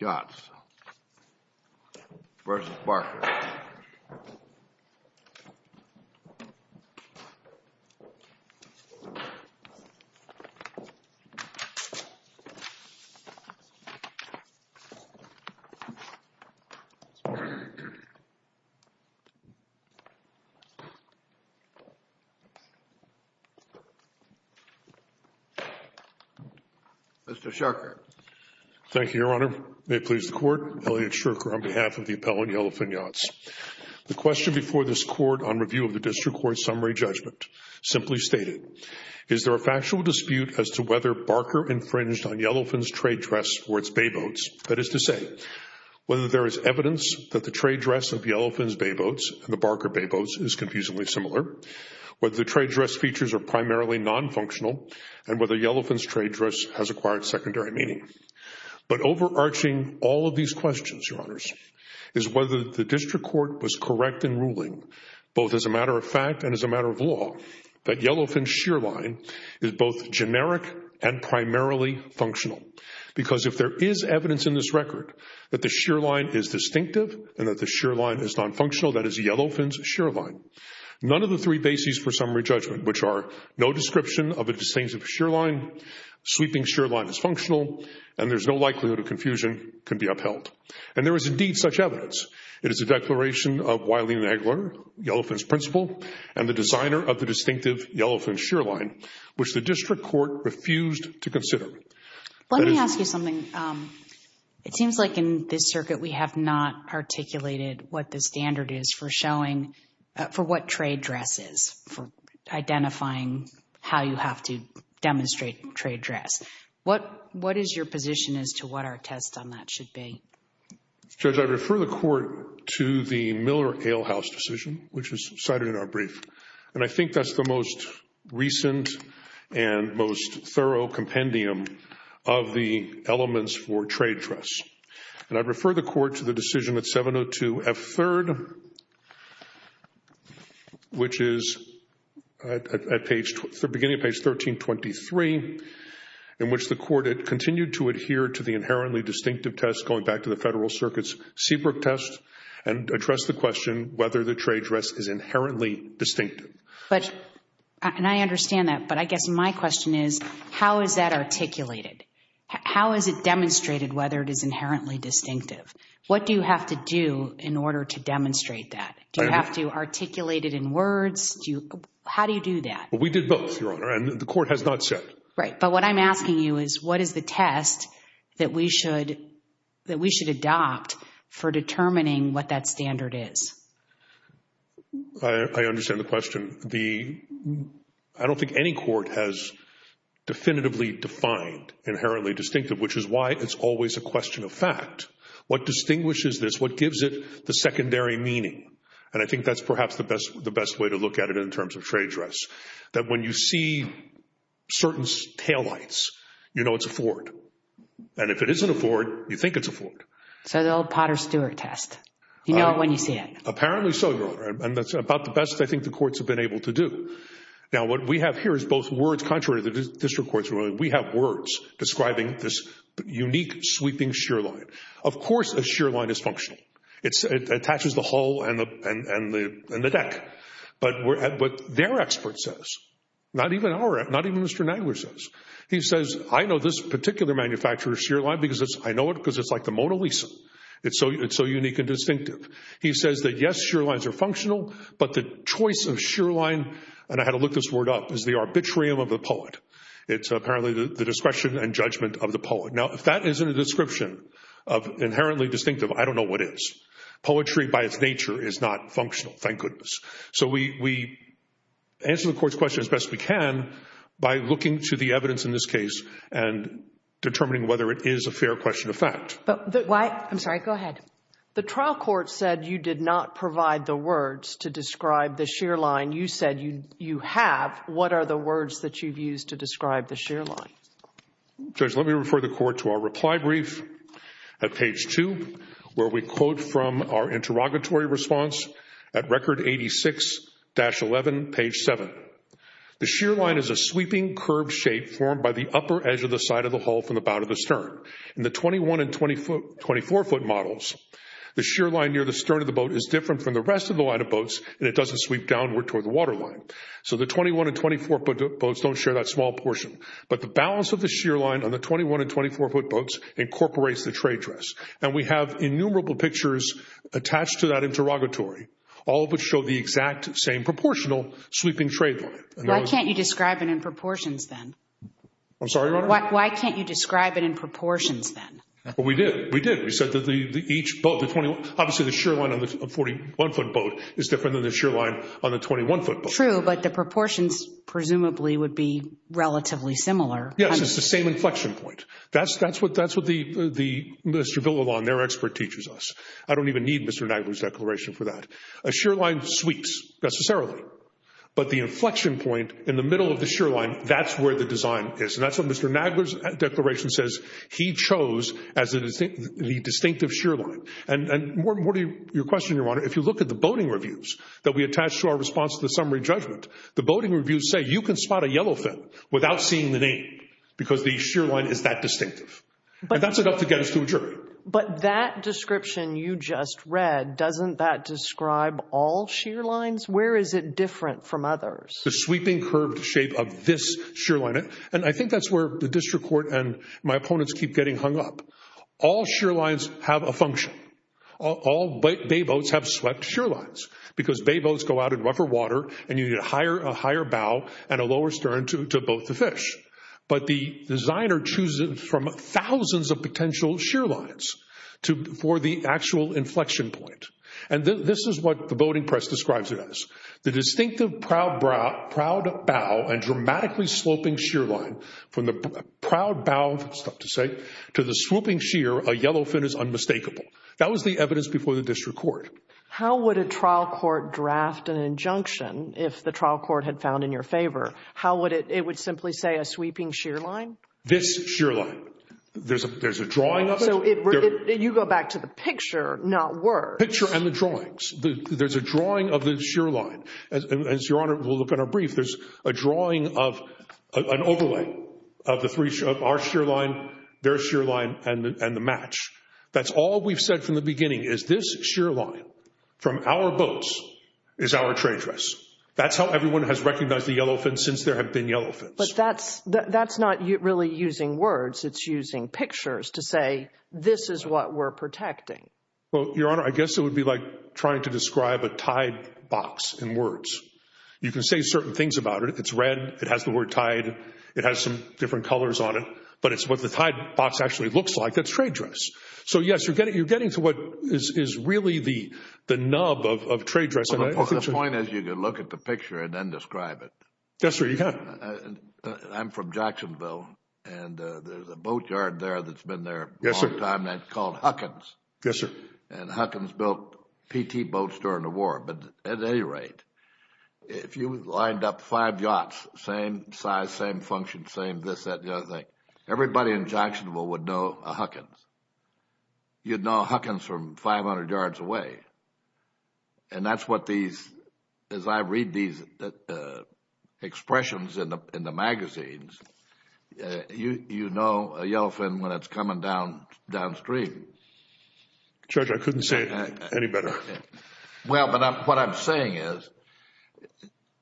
Yachts, Inc. v. Barker Mr. Shurker. Thank you, Your Honor. May it please the court, Elliot Shurker on behalf of the appellant Yellowfin Yachts. The question before this court on review of the district court summary judgment simply stated, is there a factual dispute as to whether Barker infringed on Yellowfin's trade dress or its bayboats? That is to say, whether there is evidence that the trade dress of Yellowfin's bayboats and the Barker bayboats is confusingly similar, whether the trade dress features are primarily non-functional, and whether Yellowfin's trade dress has acquired secondary meaning. But overarching all of these questions, Your Honors, is whether the district court was correct in ruling, both as a matter of fact and as a matter of law, that Yellowfin's shear line is both generic and primarily functional. Because if there is evidence in this record that the shear line is distinctive and that the shear line is non-functional, that is Yellowfin's shear line, none of the three bases for summary judgment, which are no description of a distinctive shear line, sweeping shear line is functional, and there's no likelihood of confusion, can be upheld. And there is indeed such evidence. It is a declaration of Wiley-Nagler, Yellowfin's principal, and the designer of the distinctive Yellowfin shear line, which the district court refused to consider. Let me ask you something. It seems like in this circuit we have not articulated what the standard is for showing, for what trade dress is, for identifying how you have to demonstrate trade dress. What is your position as to what our test on that should be? Judge, I refer the court to the Miller-Alehouse decision, which was cited in our brief. And I think that's the most recent and most thorough compendium of the elements for trade dress. And I refer the court to the decision at 702 F.3rd, which is at the beginning of page 1323, in which the court had continued to adhere to the inherently distinctive test, going back to the Federal Circuit's Seabrook test, and addressed the question whether the trade dress is inherently distinctive. But, and I understand that, but I guess my question is, how is that articulated? How is it demonstrated whether it is inherently distinctive? What do you have to do in order to demonstrate that? Do you have to articulate it in words? How do you do that? We did both, Your Honor, and the court has not said. Right. But what I'm asking you is, what is the test that we should, that we should adopt for determining what that standard is? I understand the question. The, I don't think any court has definitively defined inherently distinctive, which is why it's always a question of fact. What distinguishes this? What gives it the secondary meaning? And I think that's perhaps the best, the best way to look at it in terms of trade dress, that when you see certain taillights, you know it's a Ford. And if it isn't a Ford, you think it's a Ford. So the old Potter Stewart test. You know it when you see it. Apparently so, Your Honor. And that's about the best I think the courts have been able to do. Now, what we have here is both words, contrary to the district courts, we have words describing this unique sweeping shear line. Of course, a shear line is functional. It is. But their expert says, not even our, not even Mr. Nagler says. He says, I know this particular manufacturer's shear line because it's, I know it because it's like the Mona Lisa. It's so, it's so unique and distinctive. He says that yes, shear lines are functional, but the choice of shear line, and I had to look this word up, is the arbitrarium of the poet. It's apparently the discretion and judgment of the poet. Now, if that isn't a description of inherently distinctive, I don't know what is. Poetry by its nature is not functional, thank goodness. So we, we answer the court's question as best we can by looking to the evidence in this case and determining whether it is a fair question of fact. But why, I'm sorry, go ahead. The trial court said you did not provide the words to describe the shear line. You said you, you have. What are the words that you've used to describe the shear line? Judge, let me refer the court to our reply brief at page two, where we quote from our interrogatory response at record 86-11, page 7. The shear line is a sweeping, curved shape formed by the upper edge of the side of the hull from the bow to the stern. In the 21 and 24 foot models, the shear line near the stern of the boat is different from the rest of the line of boats and it doesn't sweep downward toward the water line. So the 21 and 24 foot boats don't share that small portion. But the balance of the shear line on the 21 and 24 foot boats incorporates the trade dress. And we have innumerable pictures attached to that interrogatory, all of which show the exact same proportional sweeping trade line. Why can't you describe it in proportions then? I'm sorry, Your Honor? Why can't you describe it in proportions then? Well, we did. We did. We said that each boat, the 21, obviously the shear line on the 41 foot boat is different than the shear line on the 21 foot boat. True, but the proportions presumably would be relatively similar. Yes, it's the same inflection point. That's what Mr. Villalon, their expert teaches us. I don't even need Mr. Nagler's declaration for that. A shear line sweeps, necessarily, but the inflection point in the middle of the shear line, that's where the design is. And that's what Mr. Nagler's declaration says he chose as the distinctive shear line. And more to your question, Your Honor, if you look at the boating reviews that we attach to our response to the summary judgment, the boating reviews say you can spot a yellow fin without seeing the name because the shear line is that distinctive. And that's enough to get us to a jury. But that description you just read, doesn't that describe all shear lines? Where is it different from others? The sweeping curved shape of this shear line. And I think that's where the district court and my opponents keep getting hung up. All shear lines have a function. All bay boats have swept shear lines because bay boats go out in rougher water and you need a higher bow and a lower stern to boat the fish. But the designer chooses from thousands of potential shear lines for the actual inflection point. And this is what the boating press describes it as. The distinctive proud bow and dramatically sloping shear line from the proud bow, it's tough to say, to the swooping shear, a yellow fin is unmistakable. That was the evidence before the district court. How would a trial court draft an injunction if the trial court had found in your favor? How would it, it would simply say a sweeping shear line? This shear line. There's a, there's a drawing of it. You go back to the picture, not words. Picture and the drawings. There's a drawing of the shear line. As your honor will look at our brief, there's a drawing of an overlay of the three, our shear line, their shear line and the match. That's all we've said from the beginning is this shear line from our boats is our trade dress. That's how everyone has recognized the yellow fins since there have been yellow fins. But that's, that's not really using words. It's using pictures to say, this is what we're protecting. Well, your honor, I guess it would be like trying to describe a tide box in words. You can say certain things about it. It's red. It has the word tide. It has some different colors on it, but it's what the tide box actually looks like. That's trade dress. So yes, you're getting, you're getting to what is, is really the, the nub of, of trade dress. The point is, you can look at the picture and then describe it. Yes, sir. You can. I'm from Jacksonville and there's a boatyard there that's been there a long time and it's called Huckins. Yes, sir. And Huckins built PT boats during the war. But at any rate, if you lined up five yachts, same size, same function, same this, that, the other thing, everybody in Jacksonville would know a Huckins. You'd know a Huckins from 500 yards away. And that's what these, as I read these expressions in the, in the magazines, you, you know a yellow fin when it's coming down, downstream. Judge, I couldn't say it any better. Well, but I'm, what I'm saying is,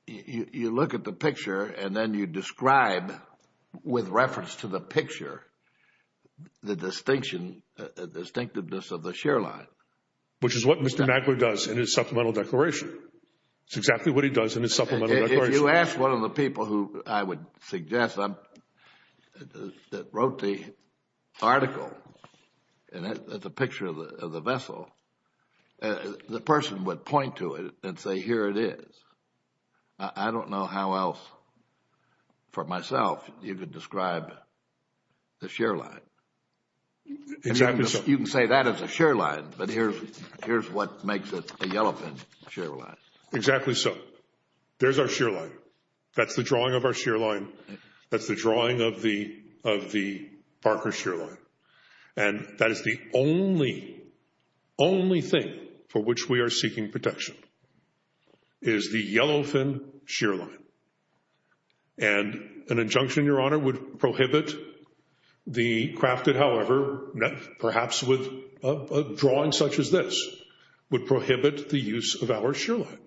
you, you look at the picture and then you describe with reference to the picture, the distinction, the distinctiveness of the shear line. Which is what Mr. Magler does in his supplemental declaration. It's exactly what he does in his supplemental declaration. If you ask one of the people who I would suggest, that wrote the article, and that's a picture of the vessel, the person would point to it and say, here it is. I don't know how else, for myself, you could describe the shear line. Exactly so. You can say that is a shear line, but here's, here's what makes it a yellow fin shear line. Exactly so. There's our shear line. That's the drawing of our shear line. That's the of the Parker shear line. And that is the only, only thing for which we are seeking protection is the yellow fin shear line. And an injunction, Your Honor, would prohibit the crafted, however, perhaps with a drawing such as this, would prohibit the use of our shear line.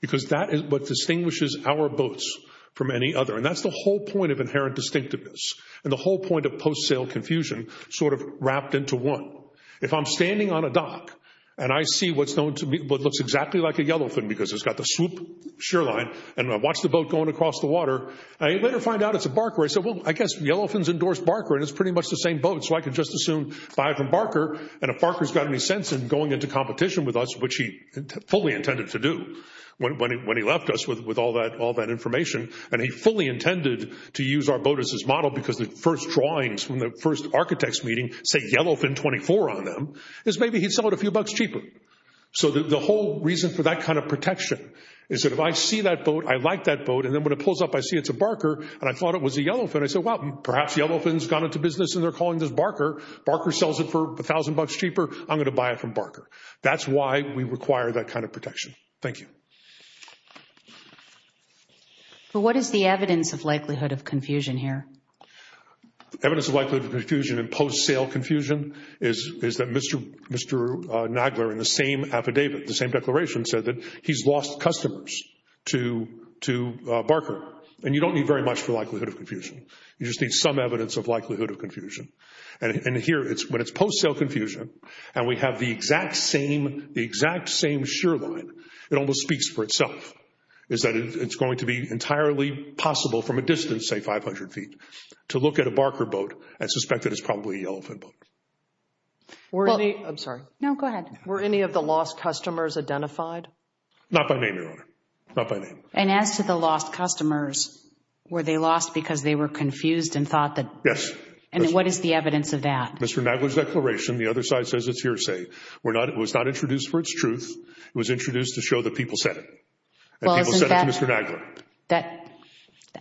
Because that is what distinguishes our boats from any other. And that's the whole point of inherent distinctiveness. And the whole point of post-sale confusion, sort of wrapped into one. If I'm standing on a dock, and I see what's known to me, what looks exactly like a yellow fin, because it's got the swoop shear line, and I watch the boat going across the water, I later find out it's a Barker. I said, well, I guess yellow fins endorse Barker, and it's pretty much the same boat. So I could just as soon buy it from Barker. And if Barker's got any sense in going into competition with us, which he fully intended to do, when he left us with all that information, and he fully intended to use our boat as his model because the first drawings from the first architects meeting say yellow fin 24 on them, is maybe he'd sell it a few bucks cheaper. So the whole reason for that kind of protection is that if I see that boat, I like that boat, and then when it pulls up, I see it's a Barker, and I thought it was a yellow fin, I said, well, perhaps yellow fins have gone into business, and they're calling this Barker. Barker sells it for a thousand bucks cheaper. I'm going to buy it from Barker. That's why we require that kind of protection. Thank you. But what is the evidence of likelihood of confusion here? Evidence of likelihood of confusion in post-sale confusion is that Mr. Nagler in the same affidavit, the same declaration, said that he's lost customers to Barker. And you don't need very much for likelihood of confusion. You just need some evidence of likelihood of confusion. And here, when it's post-sale confusion, and we have the exact same, the exact same shoreline, it almost speaks for itself, is that it's going to be entirely possible from a distance, say 500 feet, to look at a Barker boat and suspect that it's probably a yellow fin boat. Were any, I'm sorry. No, go ahead. Were any of the lost customers identified? Not by name, Your Honor. Not by name. And as to the lost customers, were they lost because they were confused and thought that? Yes. And what is the evidence of that? Mr. Nagler's declaration, the other side says it's hearsay. It was not introduced for its truth. It was introduced to show that people said it. And people said it to Mr. Nagler. That,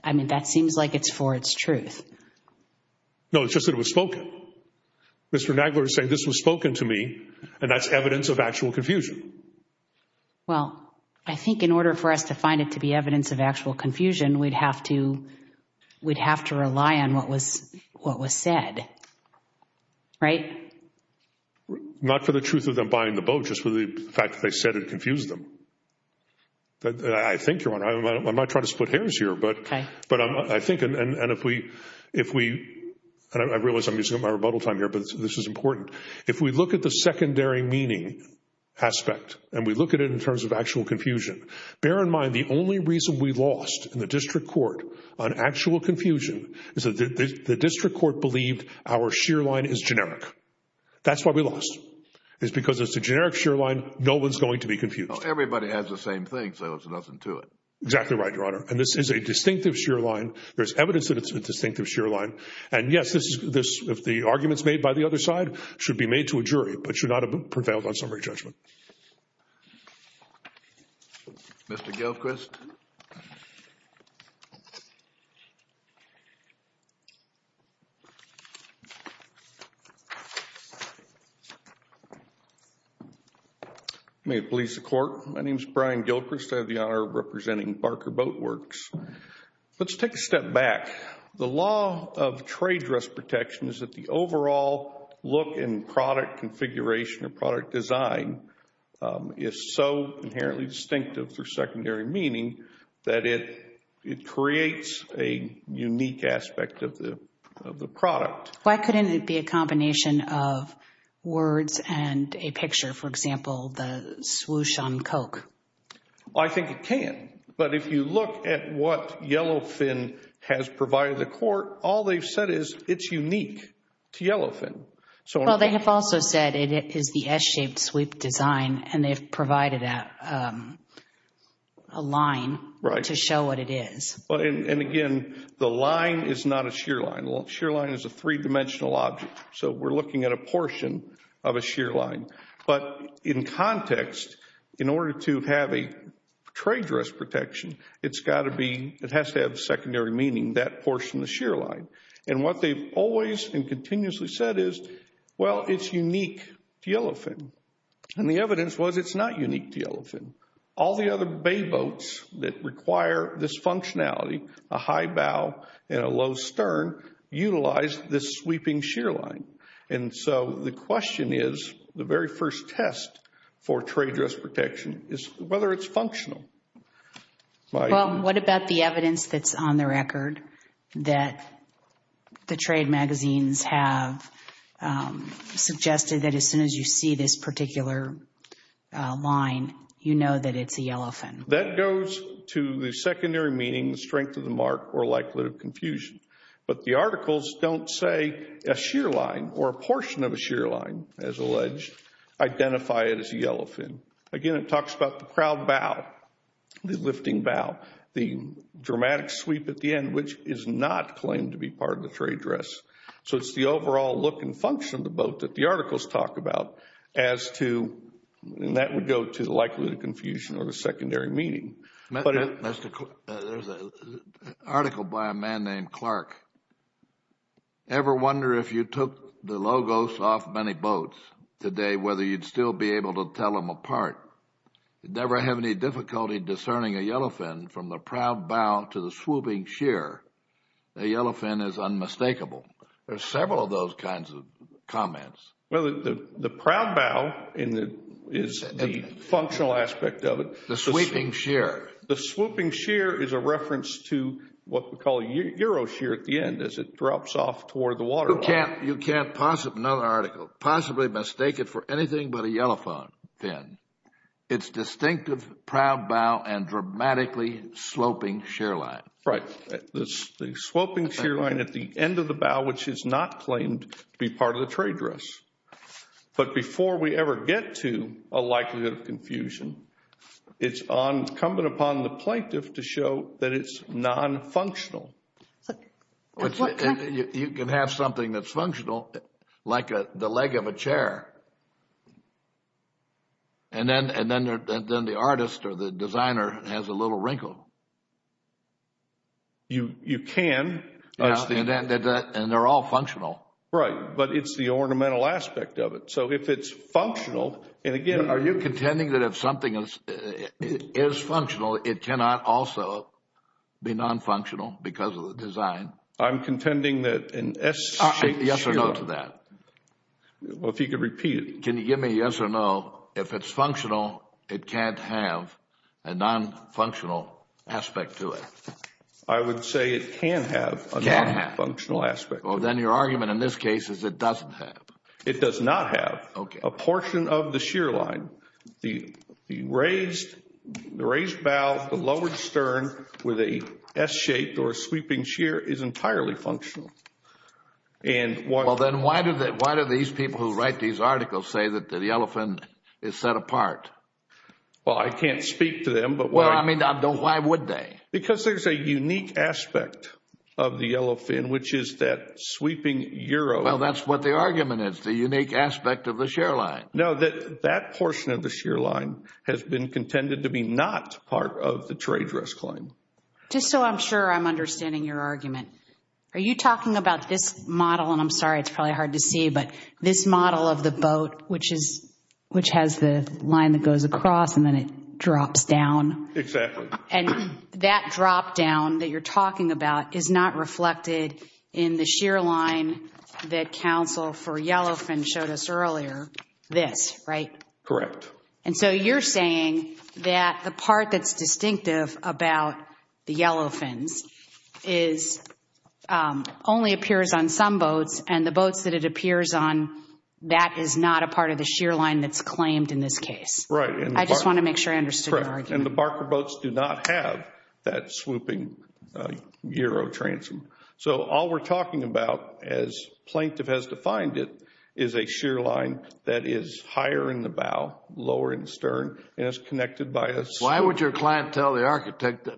I mean, that seems like it's for its truth. No, it's just that it was spoken. Mr. Nagler is saying this was spoken to me, and that's evidence of actual confusion. Well, I think in order for us to find it to be evidence of actual confusion, we'd have to, we'd have to rely on what was, what was said. Right? Not for the truth of them buying the boat, just for the fact that they said it confused them. I think, Your Honor, I'm not trying to split hairs here, but I think, and if we, if we, and I realize I'm using up my rebuttal time here, but this is important. If we look at the secondary meaning aspect, and we look at it in terms of actual confusion, bear in mind the only reason we lost in the district court on actual confusion is that the district court believed our sheer line is generic. That's why we lost, is because it's a generic sheer line, no one's going to be confused. Well, everybody has the same thing, so there's nothing to it. Exactly right, Your Honor. And this is a distinctive sheer line. There's evidence that it's a distinctive sheer line. And yes, this, if the argument's made by the other side, should be made to a jury, but should not have prevailed on summary judgment. Mr. Gilchrist. May it please the court. My name is Brian Gilchrist. I have the honor of representing Barker Boatworks. Let's take a step back. The law of trade dress protection is that the overall look and product configuration or product design is so inherently distinctive for secondary meaning that it creates a unique aspect of the product. Why couldn't it be a combination of words and a picture? For example, the swoosh on Coke. I think it can, but if you look at what Yellowfin has provided the court, all they've said is it's unique to Yellowfin. Well, they have also said it is the S-shaped sweep design, and they've provided a line to show what it is. And again, the line is not a sheer line. A sheer line is a three-dimensional object, so we're looking at a portion of a sheer line. But in context, in order to have a trade dress protection, it's got to be, it has to have secondary meaning, that portion of the sheer line. And what they've always and continuously said is, well, it's unique to Yellowfin. And the evidence was it's not unique to Yellowfin. All the other bay boats that require this functionality, a high bow and a low stern, utilize this sweeping sheer line. And so the question is, the very first test for trade dress protection is whether it's functional. Well, what about the evidence that's on the record that the trade magazines have suggested that as soon as you see this particular line, you know that it's a Yellowfin? That goes to the secondary meaning, the strength of the mark, or likelihood of confusion. But the articles don't say a sheer line or a portion of a sheer line, as alleged, identify it as a Yellowfin. Again, it talks about the crowd bow, the lifting bow, the dramatic sweep at the end, which is not claimed to be part of the trade dress. So it's the overall look and function of the boat that the articles talk about as to, and that would go to the likelihood of confusion or the secondary meaning. There's an article by a man named Clark. Ever wonder if you took the logos off many boats today, whether you'd still be able to tell them apart? Never have any difficulty discerning a Yellowfin from the proud bow to the swooping sheer. A Yellowfin is unmistakable. There's several of those kinds of comments. Well, the proud bow is the functional aspect of it. The sweeping sheer. The swooping sheer is a reference to what we call euro sheer at the end as it drops off toward the waterline. You can't possibly, another article, possibly mistake it for anything but a Yellowfin. It's distinctive proud bow and dramatically sloping sheer line. Right. The swooping sheer line at the end of the bow, which is not claimed to be part of the trade dress. But before we ever get to a likelihood of confusion, it's incumbent upon the plaintiff to show that it's non-functional. You can have something that's functional, like the leg of a chair, and then the artist or the designer has a little wrinkle. You can. And they're all functional. Right, but it's the ornamental aspect of it. So if it's functional, and again... Are you contending that if something is functional, it cannot also be non-functional because of the design? I'm contending that an S-shaped sheer... Yes or no to that? Well, if you could repeat it. Can you give me a yes or no? If it's functional, it can't have a non-functional aspect to it. I would say it can have a non-functional aspect. Well, then your argument in this case is it doesn't have. It does not have a portion of the sheer line. The raised bow, the lowered stern with a S-shaped or a sweeping sheer is entirely functional. Well, then why do these people who write these articles say that the yellow fin is set apart? Well, I can't speak to them, but... Well, I mean, why would they? Because there's a unique aspect of the yellow fin, which is that sweeping euro. Well, that's what the argument is, the unique aspect of the sheer line. No, that portion of the sheer line has been contended to be not part of the trade risk claim. Just so I'm sure I'm understanding your argument, are you talking about this model? And I'm sorry, it's probably hard to see, but this model of the boat, which has the line that goes across and then it drops down. Exactly. And that drop down that you're talking about is not reflected in the sheer line that counsel for yellow fin showed us earlier. This, right? Correct. And so you're saying that the part that's distinctive about the yellow fins is only appears on some boats and the boats that it appears on, that is not a part of the sheer line that's claimed in this case. Right. I just want to make sure I understood your argument. And the Barker boats do not have that swooping euro transom. So all we're talking about, as plaintiff has defined it, is a sheer line that is higher in the bow, lower in the stern, and it's connected by a... Why would your client tell the architect to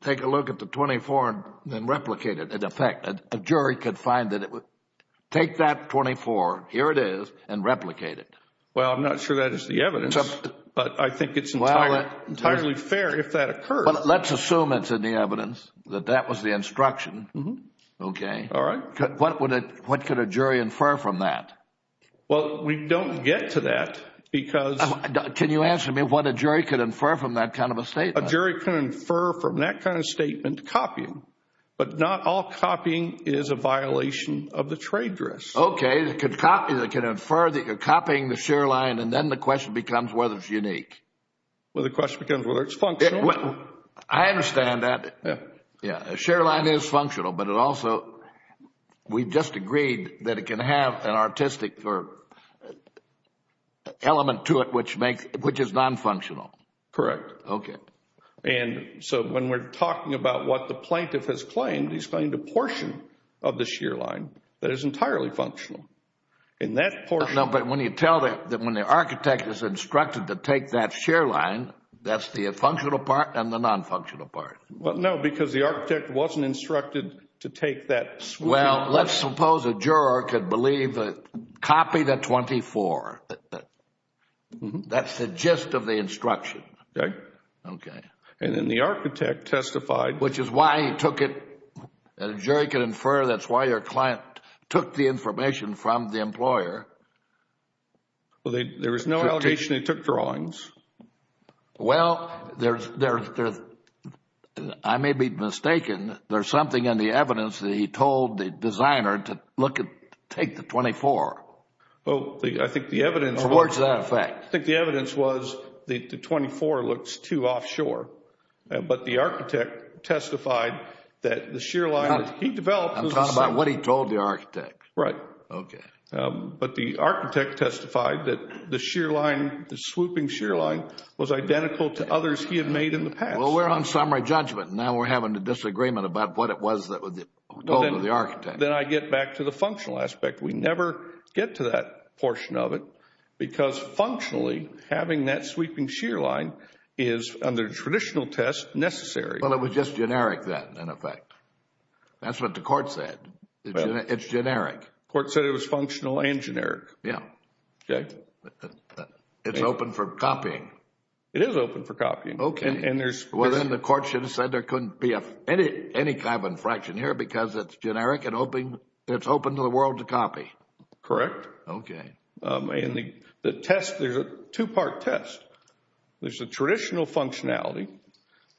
take a look at the 24 and then replicate it? In effect, a jury could find that it would take that 24, here it is, and replicate it. Well, I'm not sure that is the evidence, but I think it's entirely fair if that occurs. Well, let's assume it's in the evidence, that that was the instruction. Okay. All right. What could a jury infer from that? Well, we don't get to that because... Can you answer me what a jury could infer from that kind of a statement? A jury can infer from that kind of statement copying. But not all copying is a violation of the trade dress. Okay. They can infer that you're copying the sheer line and then the question becomes whether it's unique. Well, the question becomes whether it's functional. I understand that. Yeah. A sheer line is functional, but it also... We just agreed that it can have an artistic element to it which is non-functional. Correct. Okay. And so when we're talking about what the plaintiff has claimed, he's claimed a portion of the sheer line that is entirely functional. And that portion... No, but when you tell that when the architect is instructed to take that sheer line, that's the functional part and the non-functional part. No, because the architect wasn't instructed to take that... Well, let's suppose a juror could believe that copy the 24. That's the gist of the instruction. Okay. Okay. And then the architect testified... And a jury can infer that's why your client took the information from the employer. Well, there was no allegation they took drawings. Well, I may be mistaken. There's something in the evidence that he told the designer to take the 24. Well, I think the evidence... Or what's that effect? I think the evidence was the 24 looks too offshore. But the architect testified that the sheer line he developed... I'm talking about what he told the architect. Right. Okay. But the architect testified that the sheer line, the swooping sheer line, was identical to others he had made in the past. Well, we're on summary judgment. Now we're having a disagreement about what it was that was told to the architect. Then I get back to the functional aspect. We never get to that portion of it because functionally, having that sweeping sheer line is, under traditional tests, necessary. Well, it was just generic then, in effect. That's what the court said. It's generic. The court said it was functional and generic. Yeah. Okay. It's open for copying. It is open for copying. Okay. Well, then the court should have said there couldn't be any carbon fraction here because it's generic and it's open to the world to copy. Correct. Okay. And the test, there's a two-part test. There's a traditional functionality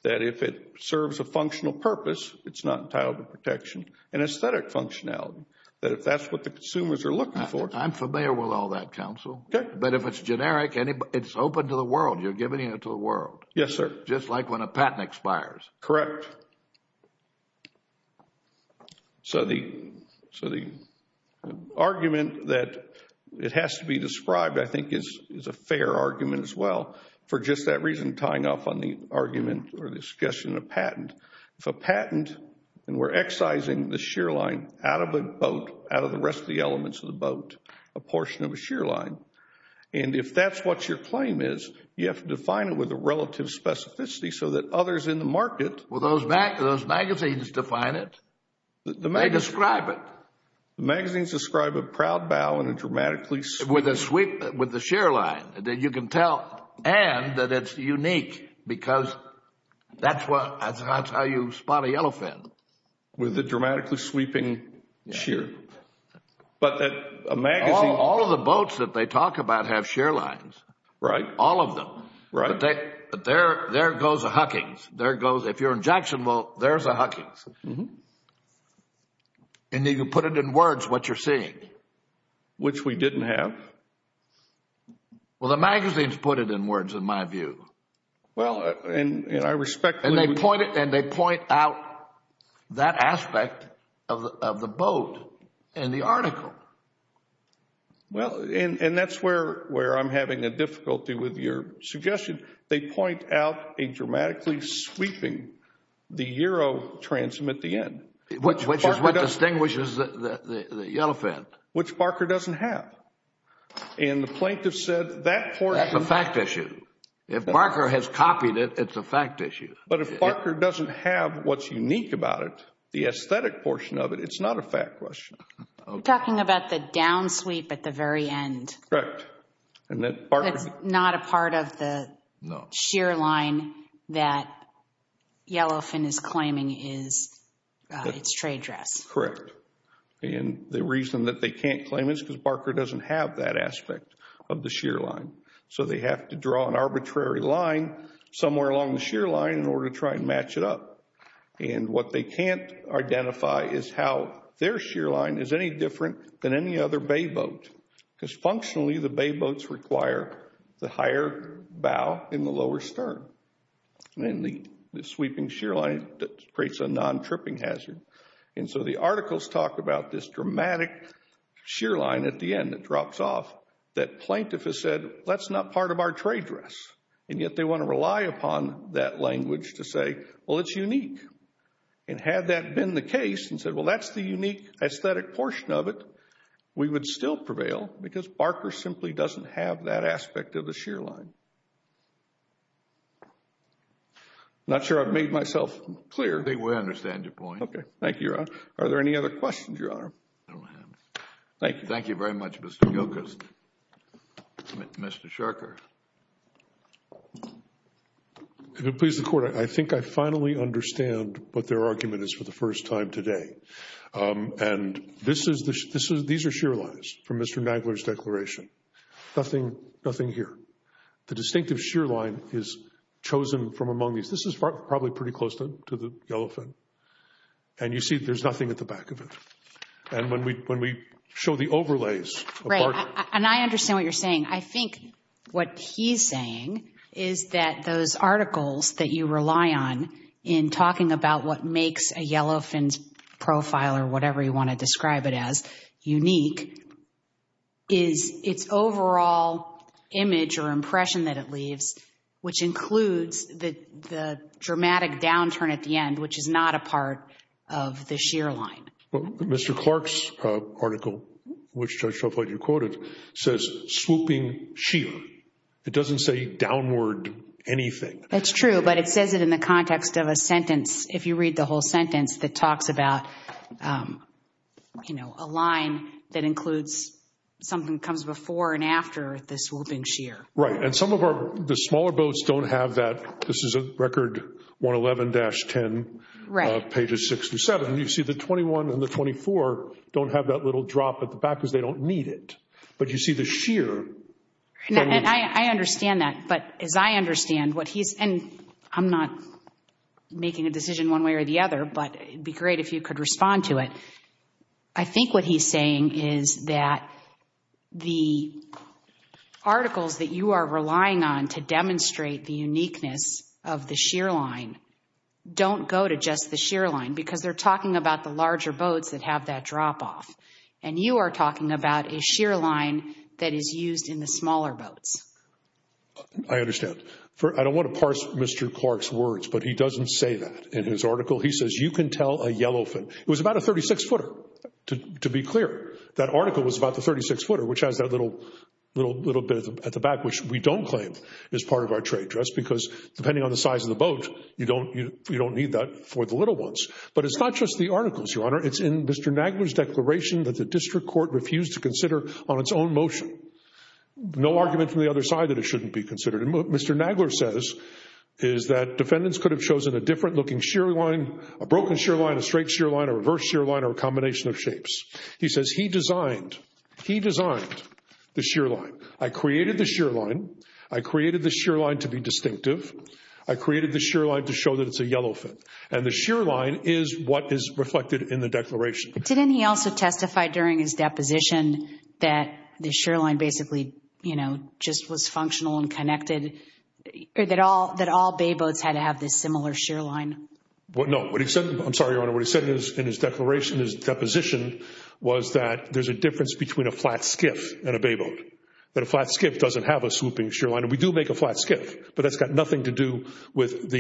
that if it serves a functional purpose, it's not entitled to protection, and aesthetic functionality that if that's what the consumers are looking for. I'm familiar with all that, counsel. Okay. But if it's generic, it's open to the world. You're giving it to the world. Yes, sir. Just like when a patent expires. Correct. So the argument that it has to be described, I think, is a fair argument as well, for just that reason tying off on the argument or the suggestion of patent. If a patent, and we're excising the shear line out of the boat, out of the rest of the elements of the boat, a portion of a shear line, and if that's what your claim is, you have to define it with a relative specificity so that others in the magazines define it. They describe it. Magazines describe a proud bow and a dramatically. With the shear line. You can tell. And that it's unique because that's how you spot a yellow fin. With a dramatically sweeping shear. But a magazine. All of the boats that they talk about have shear lines. Right. All of them. Right. But there goes a Huckings. There goes, if you're in Jacksonville, there's a Huckings. And you can put it in words what you're seeing. Which we didn't have. Well, the magazines put it in words in my view. Well, and I respect. And they point out that aspect of the boat in the article. Well, and that's where I'm having a difficulty with your suggestion. They point out a dramatically sweeping, the Euro transom at the end. Which is what distinguishes the yellow fin. Which Barker doesn't have. And the plaintiff said that portion. That's a fact issue. If Barker has copied it, it's a fact issue. But if Barker doesn't have what's unique about it, the aesthetic portion of it, it's not a fact question. You're talking about the down sweep at the very end. Correct. That's not a part of the sheer line that yellow fin is claiming is its trade dress. Correct. And the reason that they can't claim it is because Barker doesn't have that aspect of the sheer line. So they have to draw an arbitrary line somewhere along the sheer line in order to try and match it up. And what they can't identify is how their sheer line is any different than any other bay boat. Because functionally, the bay boats require the higher bow and the lower stern. And the sweeping sheer line creates a non-tripping hazard. And so the articles talk about this dramatic sheer line at the end that drops off. That plaintiff has said, that's not part of our trade dress. And yet they want to rely upon that language to say, well, it's unique. And had that been the case and said, well, that's the unique aesthetic portion of it, we would still prevail because Barker simply doesn't have that aspect of the sheer line. Not sure I've made myself clear. I think we understand your point. Okay. Thank you, Your Honor. Are there any other questions, Your Honor? Thank you. Thank you very much, Mr. Gilchrist. Mr. Sharker. If it pleases the Court, I think I finally understand what their argument is for the first time today. And these are sheer lines from Mr. Nagler's declaration. Nothing here. The distinctive sheer line is chosen from among these. This is probably pretty close to the yellow fin. And you see there's nothing at the back of it. And when we show the overlays of Barker. And I understand what you're saying. I think what he's saying is that those articles that you rely on in talking about what makes a yellow fin's profile or whatever you want to describe it as unique, is its overall image or impression that it leaves, which includes the dramatic downturn at the end, which is not a part of the sheer line. Mr. Clark's article, which Judge Shelflight, you quoted, says swooping sheer. It doesn't say downward anything. That's true, but it says it in the context of a sentence. If you read the whole sentence, it talks about, you know, a line that includes something that comes before and after the swooping sheer. Right. And some of the smaller boats don't have that. This is record 111-10, pages 6 through 7. You see the 21 and the 24 don't have that little drop at the back because they don't need it. But you see the sheer. I understand that. But as I understand what he's, and I'm not making a decision one way or the other, but it would be great if you could respond to it. I think what he's saying is that the articles that you are relying on to demonstrate the uniqueness of the sheer line don't go to just the sheer line because they're talking about the larger boats that have that drop off, and you are talking about a sheer line that is used in the smaller boats. I understand. I don't want to parse Mr. Clark's words, but he doesn't say that in his article. He says you can tell a yellowfin. It was about a 36-footer, to be clear. That article was about the 36-footer, which has that little bit at the back, which we don't claim is part of our trade dress because, depending on the size of the boat, you don't need that for the little ones. But it's not just the articles, Your Honor. It's in Mr. Nagler's declaration that the district court refused to consider on its own motion, no argument from the other side that it shouldn't be considered. And what Mr. Nagler says is that defendants could have chosen a different-looking sheer line, a broken sheer line, a straight sheer line, a reverse sheer line, or a combination of shapes. He says he designed the sheer line. I created the sheer line. I created the sheer line to be distinctive. I created the sheer line to show that it's a yellowfin. And the sheer line is what is reflected in the declaration. Didn't he also testify during his deposition that the sheer line basically, you know, just was functional and connected, that all bay boats had to have this similar sheer line? No. I'm sorry, Your Honor. What he said in his declaration, his deposition, was that there's a difference between a flat skiff and a bay boat, that a flat skiff doesn't have a swooping sheer line. And we do make a flat skiff, but that's got nothing to do with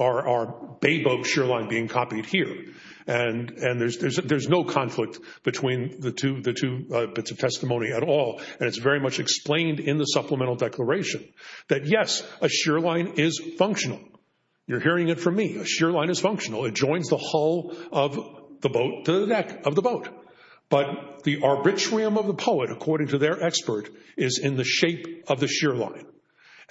our bay boat sheer line being copied here. And there's no conflict between the two bits of testimony at all. And it's very much explained in the supplemental declaration that, yes, a sheer line is functional. You're hearing it from me. A sheer line is functional. It joins the hull of the boat to the deck of the boat. But the arbitrarium of the poet, according to their expert, is in the shape of the sheer line.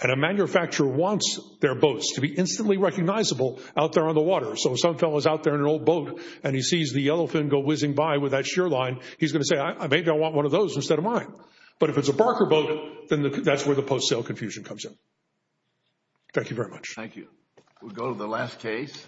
And a manufacturer wants their boats to be instantly recognizable out there on the water. So if some fellow's out there in an old boat and he sees the yellowfin go whizzing by with that sheer line, he's going to say, maybe I want one of those instead of mine. But if it's a Barker boat, then that's where the post-sale confusion comes in. Thank you very much. Thank you. We'll go to the last case.